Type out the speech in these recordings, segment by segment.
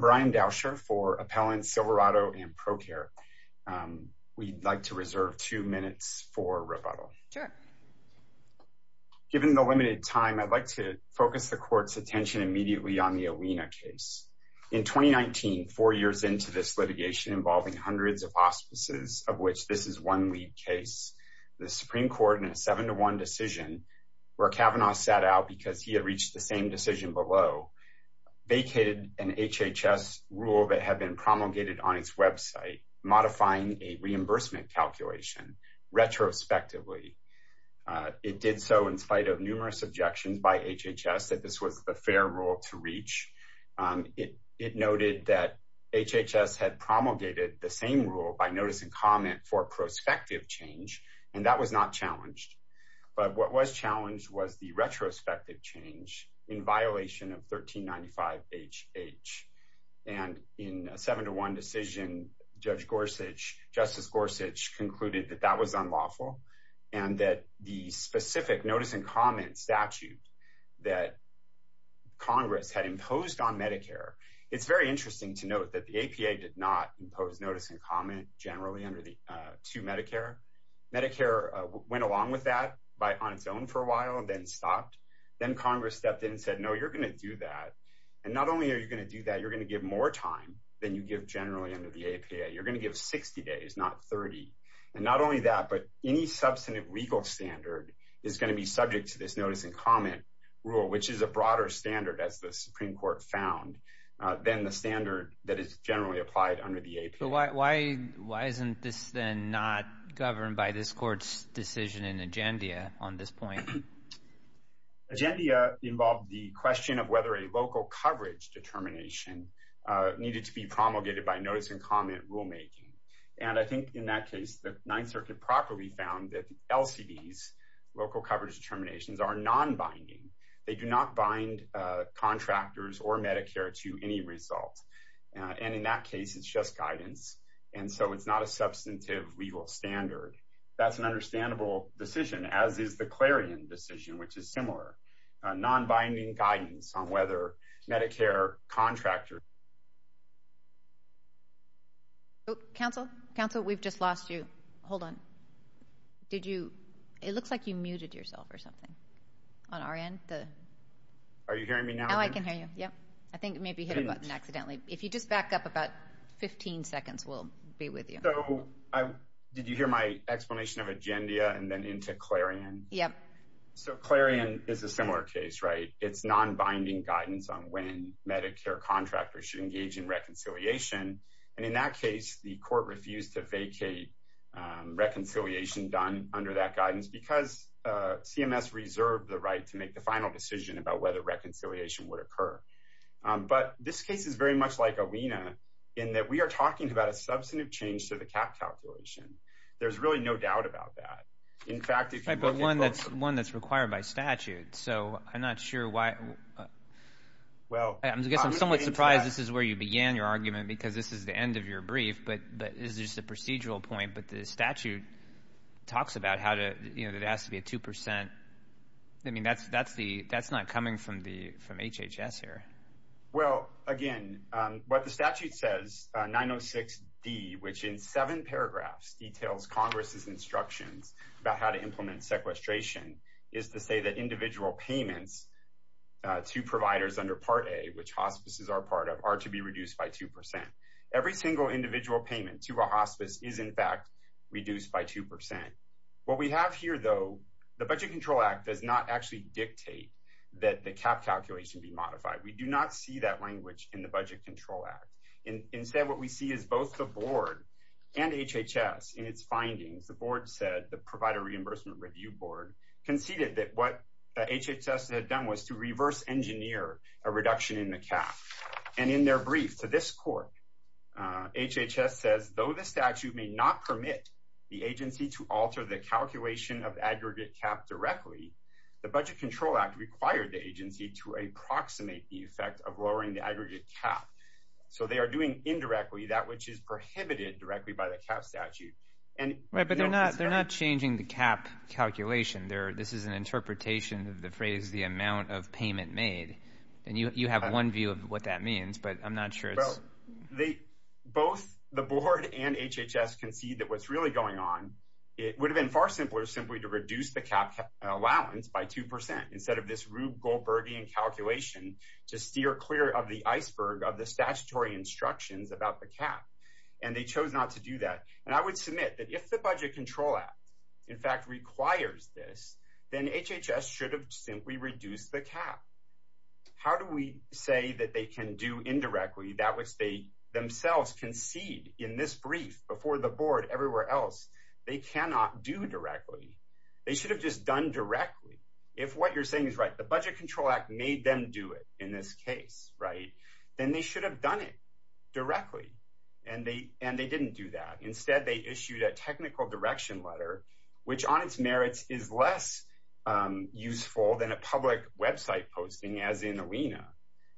Brian Dauscher, Appellant, Silverado & Procurement We'd like to reserve two minutes for rebuttal. Given the limited time, I'd like to focus the Court's attention immediately on the Alena case. In 2019, four years into this litigation involving hundreds of hospices, of which this is one lead case, the Supreme Court in a 7-1 decision, where Kavanaugh sat out because he had reached the same decision below, vacated an HHS rule that had been promulgated on its website, modifying a reimbursement calculation retrospectively. It did so in spite of numerous objections by HHS that this was the fair rule to reach. It noted that HHS had promulgated the same rule by notice and comment for prospective change, and that was not challenged. But what was challenged was the retrospective change in violation of 1395HH. And in a 7-1 decision, Judge Gorsuch, Justice Gorsuch concluded that that was unlawful and that the specific notice and comment statute that Congress had imposed on Medicare. It's very interesting to note that the APA did not impose notice and comment generally under the two Medicare. Medicare went along with that on its own for a while and then stopped. Then Congress stepped in and said, no, you're going to do that. And not only are you going to do that, you're going to give more time than you give generally under the APA. You're going to give 60 days, not 30. And not only that, but any substantive legal standard is going to be subject to this notice and comment rule, which is a broader standard, as the Supreme Court found, than the standard that is generally applied under the APA. Why isn't this then not governed by this court's decision in agendia on this point? Agendia involved the question of whether a local coverage determination needed to be promulgated by notice and comment rulemaking. And I think in that case, the Ninth Circuit properly found that the LCDs, local coverage determinations, are non-binding. They do not bind contractors or Medicare to any result. And in that case, it's just guidance. And so it's not a substantive legal standard. That's an understandable decision, as is the Clarion decision, which is similar. Non-binding guidance on whether Medicare contractors... Oh, counsel. Counsel, we've just lost you. Hold on. Did you... It looks like you muted yourself or something on our end. Are you hearing me now? Now I can hear you. Yep. I think maybe you hit a button accidentally. If you just back up about 15 seconds, we'll be with you. So did you hear my explanation of agendia and then into Clarion? Yep. So Clarion is a similar case, right? It's non-binding guidance on when Medicare contractors should engage in reconciliation. And in that case, the court refused to vacate reconciliation done under that guidance because CMS reserved the right to make the final decision about whether reconciliation would occur. But this case is very much like Alena in that we are talking about a substantive change to the cap calculation. There's really no doubt about that. In fact, if you look at both of them... Right, but one that's required by statute. So I'm not sure why... Well... I guess I'm somewhat surprised this is where you began your argument because this is the end of your brief, but this is just a procedural point. But the statute talks about how to... You know, it has to be a 2%. I mean, that's not coming from HHS here. Well, again, what the statute says, 906D, which in seven paragraphs details Congress' instructions about how to implement sequestration, is to say that individual payments to providers under Part A, which hospices are part of, are to be reduced by 2%. Every single individual payment to a hospice is, in fact, reduced by 2%. What we have here, though, the Budget Control Act does not actually dictate that the cap calculation be modified. We do not see that language in the Budget Control Act. Instead, what we see is both the board and HHS in its findings. The board said, the Provider Reimbursement Review Board, conceded that what HHS had done was to reverse engineer a reduction in the cap. And in their brief to this court, HHS says, though the statute may not permit the agency to alter the calculation of aggregate cap directly, the Budget Control Act required the agency to approximate the effect of lowering the aggregate cap. So they are doing indirectly that which is prohibited directly by the cap statute. Right, but they're not changing the cap calculation. This is an interpretation of the phrase, the amount of payment made. And you have one view of what that means, but I'm not sure it's... Both the board and HHS concede that what's really going on, it would have been far simpler simply to reduce the cap allowance by 2% instead of this Rube Goldbergian calculation to steer clear of the iceberg of the statutory instructions about the cap. And they chose not to do that. And I would submit that if the Budget Control Act, in fact, requires this, then HHS should have simply reduced the cap. How do we say that they can do indirectly that which they themselves concede in this brief before the board everywhere else? They cannot do directly. They should have just done directly. If what you're saying is right, the Budget Control Act made them do it in this case, right, then they should have done it directly. And they didn't do that. Instead, they issued a technical direction letter, which on its merits is less useful than a public website posting as in Alena.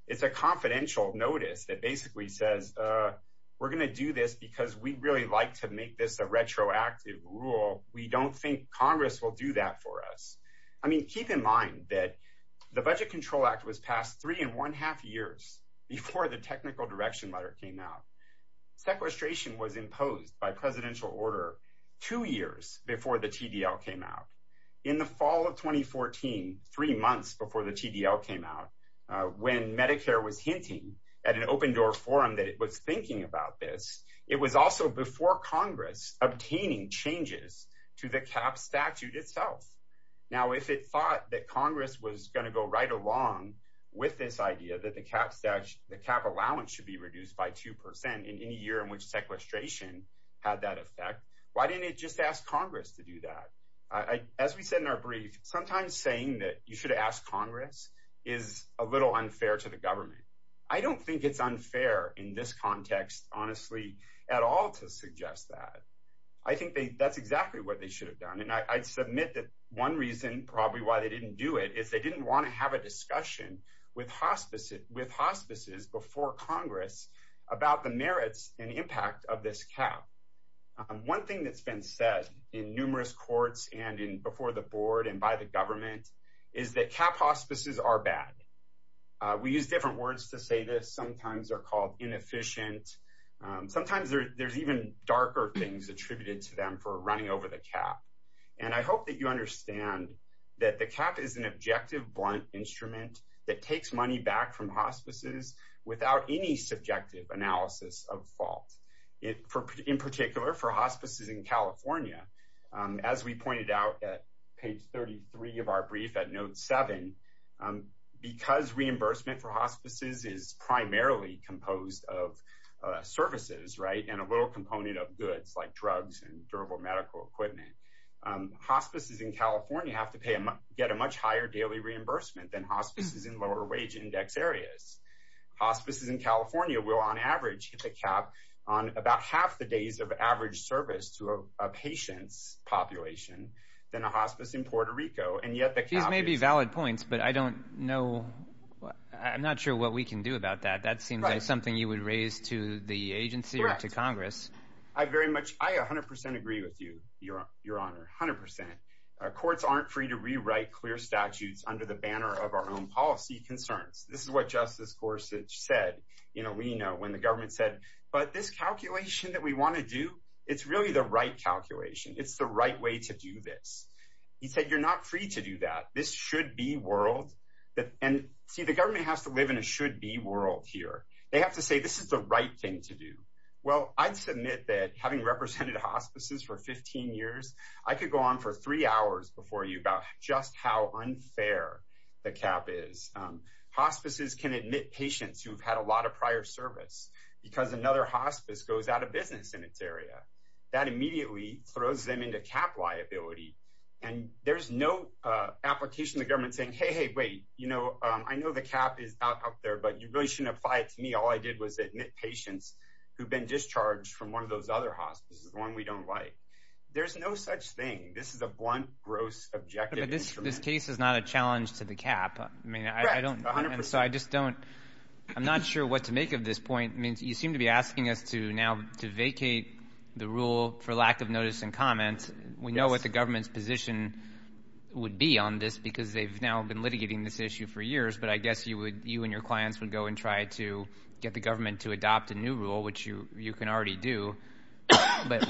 It's a confidential notice that basically says, we're going to do this because we really like to make this a retroactive rule. We don't think Congress will do that for us. I mean, keep in mind that the Budget Control Act was passed three and one half years before the technical direction letter came out. Sequestration was imposed by presidential order two years before the TDL came out. In the fall of 2014, three months before the TDL came out, when Medicare was hinting at an open door forum that it was thinking about this, it was also before Congress obtaining changes to the cap statute itself. Now, if it thought that Congress was going to go right along with this idea that the cap allowance should be reduced by 2% in any year in which sequestration had that effect, why didn't it just ask Congress to do that? As we said in our brief, sometimes saying that you should ask Congress is a little unfair to the government. I don't think it's unfair in this context, honestly, at all to suggest that. I think that's exactly what they should have done. And I'd submit that one reason probably why they didn't do it is they didn't want to have a discussion with hospices before Congress about the merits and impact of this cap. One thing that's been said in numerous courts and before the board and by the government is that cap hospices are bad. We use different words to say this. Sometimes they're called inefficient. Sometimes there's even darker things attributed to them for running over the cap. And I hope that you understand that the cap is an objective blunt instrument that takes money back from hospices without any subjective analysis of fault. In particular, for hospices in California, as we pointed out at page 33 of our brief at note 7, because reimbursement for hospices is primarily composed of services and a little component of goods like drugs and durable medical equipment, hospices in California have to get a much higher daily reimbursement than hospices in lower wage index areas. Hospices in California will, on average, hit the cap on about half the days of average service to a patient's population than a hospice in Puerto Rico. These may be valid points, but I don't know. I'm not sure what we can do about that. That seems like something you would raise to the agency or to Congress. I 100% agree with you, Your Honor, 100%. Courts aren't free to rewrite clear statutes under the banner of our own policy concerns. This is what Justice Gorsuch said, we know, when the government said, but this calculation that we want to do, it's really the right calculation. It's the right way to do this. He said, you're not free to do that. This should be world. And see, the government has to live in a should be world here. They have to say, this is the right thing to do. Well, I'd submit that having represented hospices for 15 years, I could go on for three hours before you about just how unfair the cap is. Hospices can admit patients who have had a lot of prior service because another hospice goes out of business in its area. That immediately throws them into cap liability. And there's no application of the government saying, hey, hey, wait, you know, I know the cap is out there, but you really shouldn't apply it to me. All I did was admit patients who've been discharged from one of those other hospices, the one we don't like. There's no such thing. This is a blunt, gross, objective instrument. The case is not a challenge to the cap. I mean, I don't know. And so I just don't – I'm not sure what to make of this point. I mean, you seem to be asking us to now vacate the rule for lack of notice and comment. We know what the government's position would be on this because they've now been litigating this issue for years. But I guess you and your clients would go and try to get the government to adopt a new rule, which you can already do. But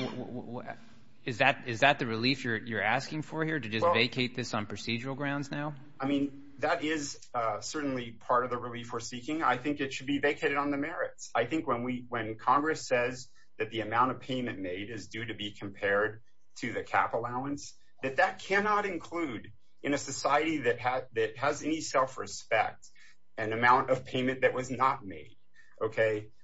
is that the relief you're asking for here, to just vacate this on procedural grounds now? I mean, that is certainly part of the relief we're seeking. I think it should be vacated on the merits. I think when Congress says that the amount of payment made is due to be compared to the cap allowance, that that cannot include in a society that has any self-respect an amount of payment that was not made.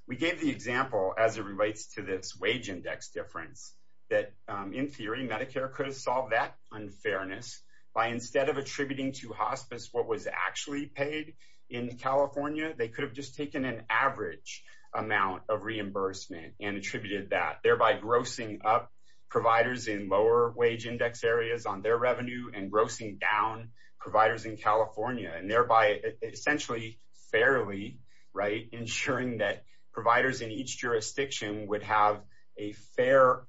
We gave the example, as it relates to this wage index difference, that in theory Medicare could have solved that unfairness by instead of attributing to hospice what was actually paid in California, they could have just taken an average amount of reimbursement and attributed that, thereby grossing up providers in lower wage index areas on their revenue and grossing down providers in California, and thereby essentially fairly ensuring that providers in each jurisdiction would have a fair,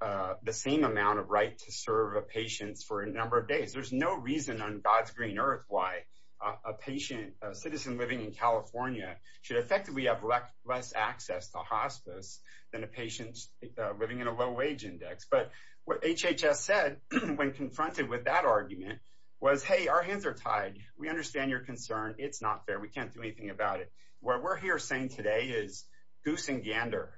the same amount of right to serve a patient for a number of days. There's no reason on God's green earth why a patient, a citizen living in California, should effectively have less access to hospice than a patient living in a low wage index. But what HHS said when confronted with that argument was, hey, our hands are tied. We understand your concern. It's not fair. We can't do anything about it. What we're here saying today is goose and gander,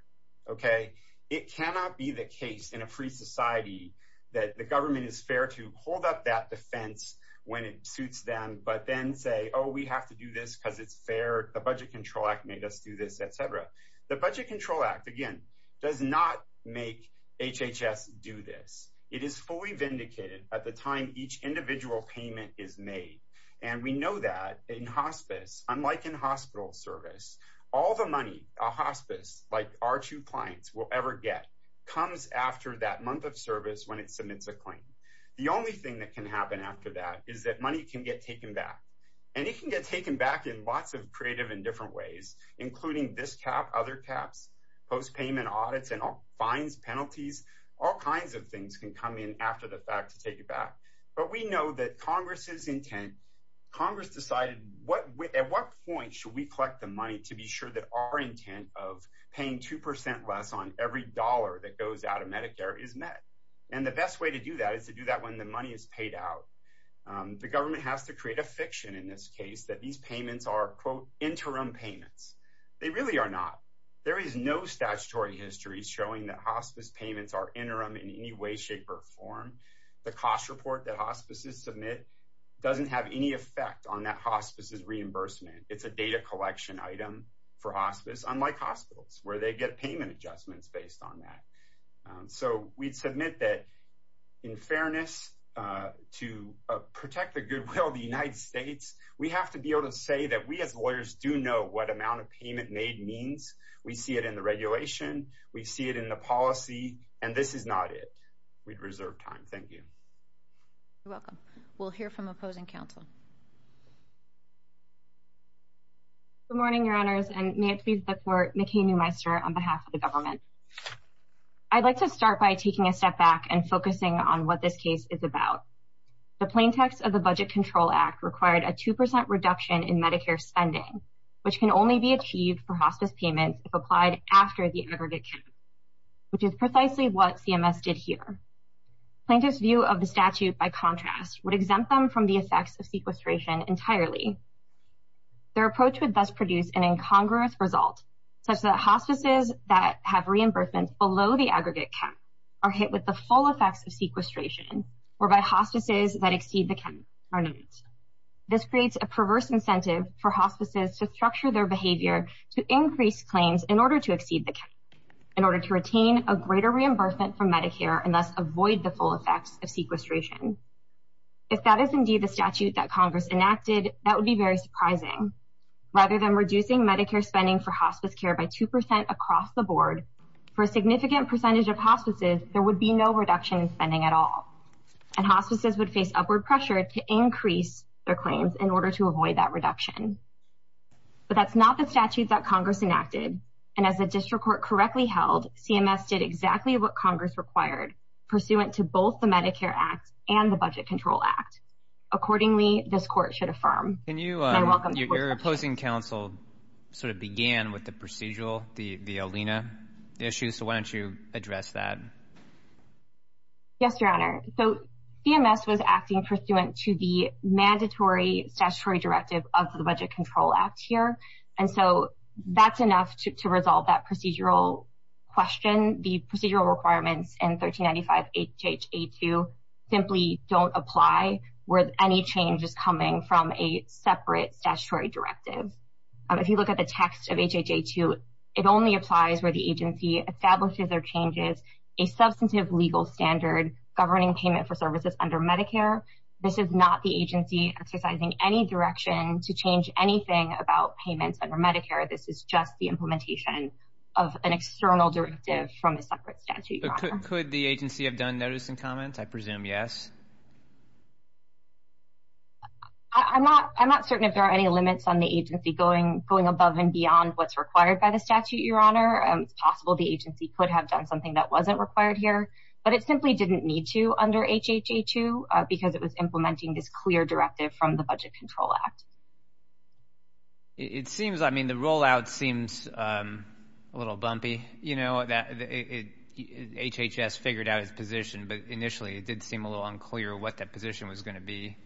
okay? It cannot be the case in a free society that the government is fair to hold up that defense when it suits them, but then say, oh, we have to do this because it's fair. The Budget Control Act made us do this, et cetera. The Budget Control Act, again, does not make HHS do this. It is fully vindicated at the time each individual payment is made. And we know that in hospice, unlike in hospital service, all the money a hospice, like our two clients, will ever get comes after that month of service when it submits a claim. The only thing that can happen after that is that money can get taken back. And it can get taken back in lots of creative and different ways, including this cap, other caps, postpayment audits and fines, penalties, all kinds of things can come in after the fact to take it back. But we know that Congress's intent, Congress decided at what point should we collect the money to be sure that our intent of paying 2% less on every dollar that goes out of Medicare is met. And the best way to do that is to do that when the money is paid out. The government has to create a fiction in this case that these payments are, quote, interim payments. They really are not. There is no statutory history showing that hospice payments are interim in any way, shape, or form. The cost report that hospices submit doesn't have any effect on that hospice's reimbursement. It's a data collection item for hospice, unlike hospitals where they get payment adjustments based on that. So we'd submit that in fairness to protect the goodwill of the United States, we have to be able to say that we as lawyers do know what amount of payment made means. We see it in the regulation. We see it in the policy. And this is not it. We have reserved time. Thank you. You're welcome. We'll hear from opposing counsel. Good morning, Your Honors, and may it please the Court, McKay Newmeister on behalf of the government. I'd like to start by taking a step back and focusing on what this case is about. The plain text of the Budget Control Act required a 2% reduction in Medicare spending, which can only be achieved for hospice payments if applied after the aggregate count, which is precisely what CMS did here. Plaintiff's view of the statute, by contrast, would exempt them from the effects of sequestration entirely. Their approach would thus produce an incongruous result, such that hospices that have reimbursement below the aggregate count are hit with the full effects of sequestration, whereby hospices that exceed the count are not. This creates a perverse incentive for hospices to structure their behavior, to increase claims in order to exceed the count, in order to retain a greater reimbursement from Medicare and thus avoid the full effects of sequestration. If that is indeed the statute that Congress enacted, that would be very surprising. Rather than reducing Medicare spending for hospice care by 2% across the board, for a significant percentage of hospices, there would be no reduction in spending at all, and hospices would face upward pressure to increase their claims in order to avoid that reduction. But that's not the statute that Congress enacted. And as the district court correctly held, CMS did exactly what Congress required, pursuant to both the Medicare Act and the Budget Control Act. Accordingly, this court should affirm. My welcome. Your opposing counsel sort of began with the procedural, the ALENA issue, so why don't you address that? Yes, Your Honor. So CMS was acting pursuant to the mandatory statutory directive of the Budget Control Act here, and so that's enough to resolve that procedural question. The procedural requirements in 1395 H.H.A. 2 simply don't apply where any change is coming from a separate statutory directive. If you look at the text of H.H.A. 2, it only applies where the agency establishes a substantive legal standard governing payment for services under Medicare. This is not the agency exercising any direction to change anything about payments under Medicare. This is just the implementation of an external directive from a separate statute, Your Honor. Could the agency have done notice and comment? I presume yes. I'm not certain if there are any limits on the agency going above and beyond what's required by the statute, Your Honor. It's possible the agency could have done something that wasn't required here, but it simply didn't need to under H.H.A. 2 because it was implementing this clear directive from the Budget Control Act. It seems, I mean, the rollout seems a little bumpy. You know, HHS figured out its position, but initially it did seem a little unclear what that position was going to be.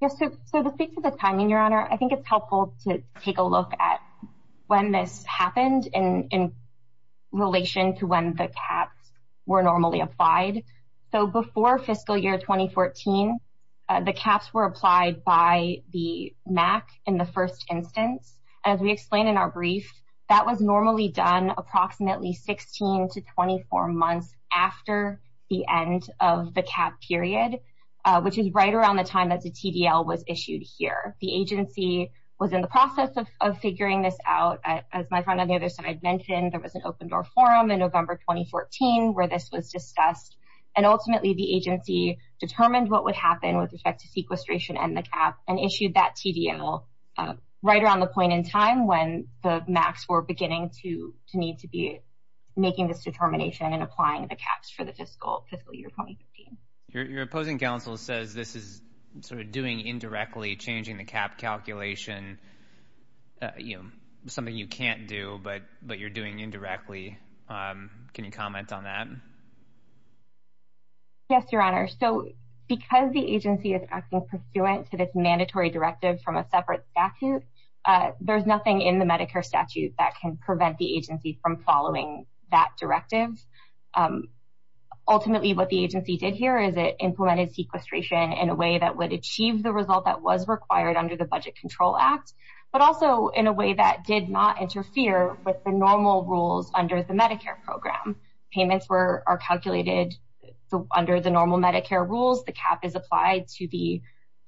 Yes, so to speak to the timing, Your Honor, I think it's helpful to take a look at when this happened in relation to when the caps were normally applied. So before fiscal year 2014, the caps were applied by the MAC in the first instance. As we explained in our brief, that was normally done approximately 16 to 24 months after the end of the cap period, which is right around the time that the TDL was issued here. The agency was in the process of figuring this out. As my friend on the other side mentioned, there was an open-door forum in November 2014 where this was discussed, and ultimately the agency determined what would happen with respect to sequestration and the cap and issued that TDL right around the point in time when the MACs were beginning to need to be making this determination and applying the caps for the fiscal year 2015. Your opposing counsel says this is sort of doing indirectly, changing the cap calculation, something you can't do but you're doing indirectly. Can you comment on that? Yes, Your Honor. So because the agency is acting pursuant to this mandatory directive from a separate statute, there's nothing in the Medicare statute that can prevent the agency from following that directive. Ultimately what the agency did here is it implemented sequestration in a way that would achieve the result that was required under the Budget Control Act, but also in a way that did not interfere with the normal rules under the Medicare program. Payments are calculated under the normal Medicare rules. The cap is applied to the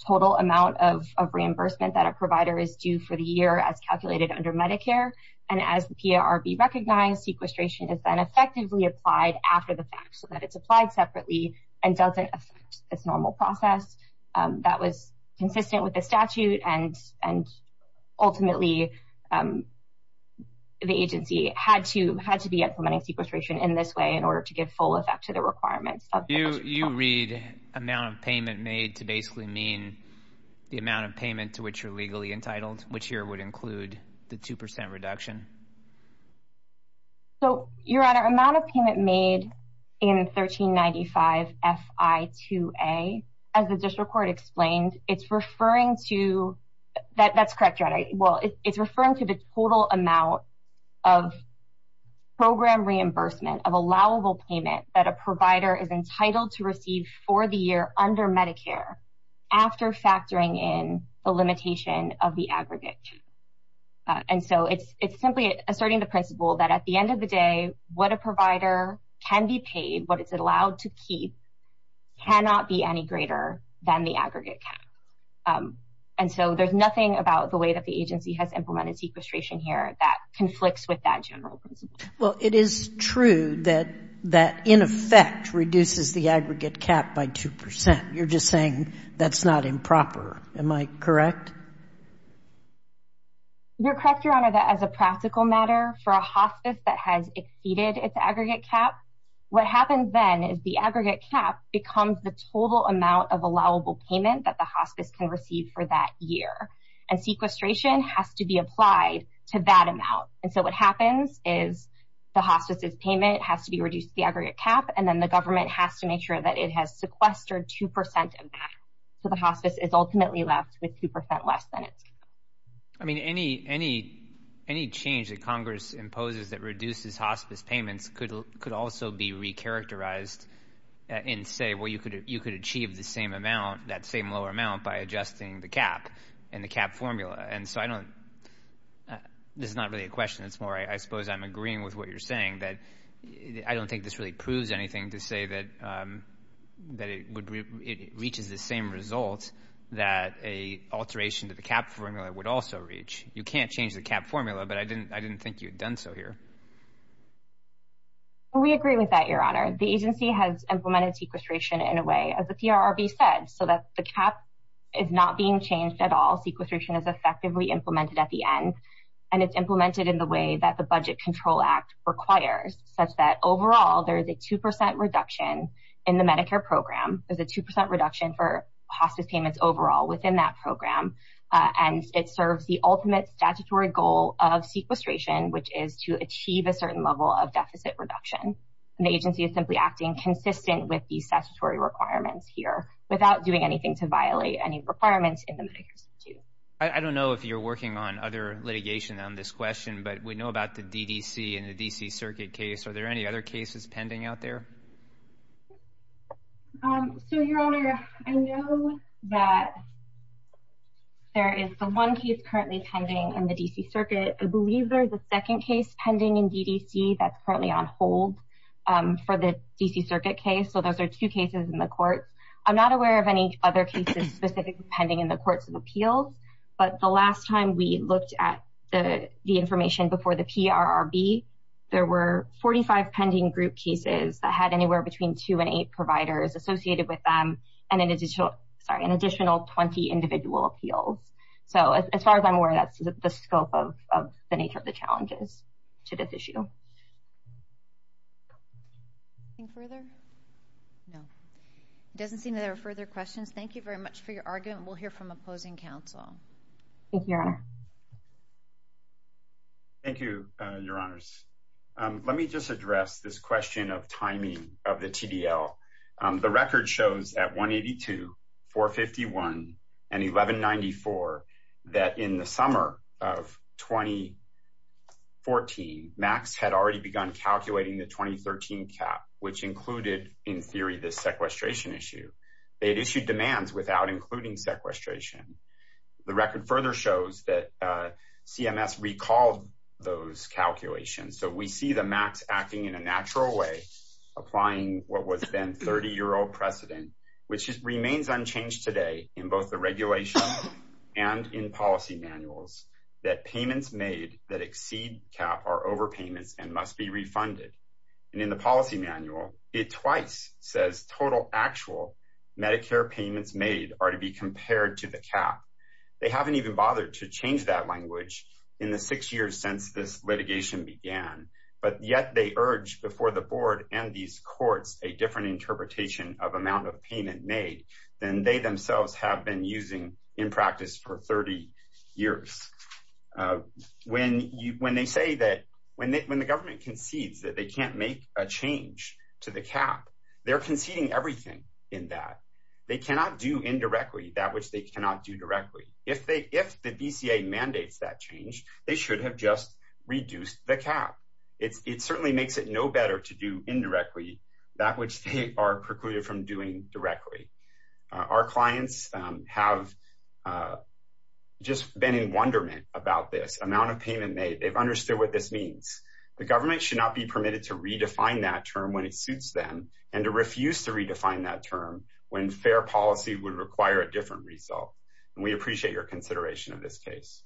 total amount of reimbursement that a provider is due for the year as calculated under Medicare, and as the PARB recognized, sequestration is then effectively applied after the fact so that it's applied separately and doesn't affect this normal process. That was consistent with the statute and ultimately the agency had to be implementing sequestration in this way in order to give full effect to the requirements of the Budget Control Act. You read amount of payment made to basically mean the amount of payment to which you're legally entitled, which here would include the 2% reduction. So, Your Honor, amount of payment made in 1395FI2A, as the district court explained, it's referring to, that's correct, Your Honor, well, it's referring to the total amount of program reimbursement of allowable payment that a provider is entitled to receive for the year under Medicare after factoring in the limitation of the aggregate cap. And so it's simply asserting the principle that at the end of the day, what a provider can be paid, what it's allowed to keep cannot be any greater than the aggregate cap. And so there's nothing about the way that the agency has implemented sequestration here that conflicts with that general principle. Well, it is true that that in effect reduces the aggregate cap by 2%. You're just saying that's not improper. Am I correct? You're correct, Your Honor, that as a practical matter, for a hospice that has exceeded its aggregate cap, what happens then is the aggregate cap becomes the total amount of allowable payment that the hospice can receive for that year. And sequestration has to be applied to that amount. And so what happens is the hospice's payment has to be reduced to the aggregate cap, and then the government has to make sure that it has sequestered 2% of that. So the hospice is ultimately left with 2% less than its cap. I mean, any change that Congress imposes that reduces hospice payments could also be recharacterized and say, well, you could achieve the same amount, that same lower amount, by adjusting the cap and the cap formula. And so I don't – this is not really a question. It's more I suppose I'm agreeing with what you're saying, that I don't think this really proves anything to say that it reaches the same results that a alteration to the cap formula would also reach. You can't change the cap formula, but I didn't think you had done so here. We agree with that, Your Honor. The agency has implemented sequestration in a way, as the PRRB said, so that the cap is not being changed at all. Sequestration is effectively implemented at the end, and it's implemented in the way that the Budget Control Act requires, such that overall there is a 2% reduction in the Medicare program. There's a 2% reduction for hospice payments overall within that program, and it serves the ultimate statutory goal of sequestration, which is to achieve a certain level of deficit reduction. The agency is simply acting consistent with the statutory requirements here without doing anything to violate any requirements in the Medicare statute. I don't know if you're working on other litigation on this question, but we know about the DDC and the D.C. Circuit case. Are there any other cases pending out there? So, Your Honor, I know that there is the one case currently pending in the D.C. Circuit. I believe there is a second case pending in D.D.C. that's currently on hold for the D.C. Circuit case, so those are two cases in the courts. I'm not aware of any other cases specifically pending in the courts of appeals, but the last time we looked at the information before the PRRB, there were 45 pending group cases that had anywhere between two and eight providers associated with them and an additional 20 individual appeals. So, as far as I'm aware, that's the scope of the nature of the challenges to this issue. Anything further? No. It doesn't seem that there are further questions. Thank you very much for your argument. We'll hear from opposing counsel. Thank you, Your Honor. Thank you, Your Honors. Let me just address this question of timing of the TDL. The record shows at 182, 451, and 1194 that in the summer of 2014, MACS had already begun calculating the 2013 cap, which included, in theory, the sequestration issue. They had issued demands without including sequestration. The record further shows that CMS recalled those calculations, so we see the MACS acting in a natural way, applying what was then 30-year-old precedent, which remains unchanged today in both the regulation and in policy manuals, that payments made that exceed cap are overpayments and must be refunded. And in the policy manual, it twice says total actual Medicare payments made are to be compared to the cap. They haven't even bothered to change that language in the six years since this litigation began, but yet they urge before the board and these courts a different interpretation of amount of payment made than they themselves have been using in practice for 30 years. When they say that when the government concedes that they can't make a change to the cap, they're conceding everything in that. They cannot do indirectly that which they cannot do directly. If the BCA mandates that change, they should have just reduced the cap. It certainly makes it no better to do indirectly that which they are precluded from doing directly. Our clients have just been in wonderment about this amount of payment made. They've understood what this means. The government should not be permitted to redefine that term when it suits them and to refuse to redefine that term when fair policy would require a different result. And we appreciate your consideration of this case.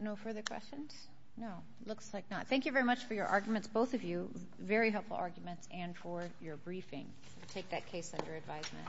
No further questions? No, looks like not. Thank you very much for your arguments, both of you. Very helpful arguments and for your briefing. Take that case under advisement.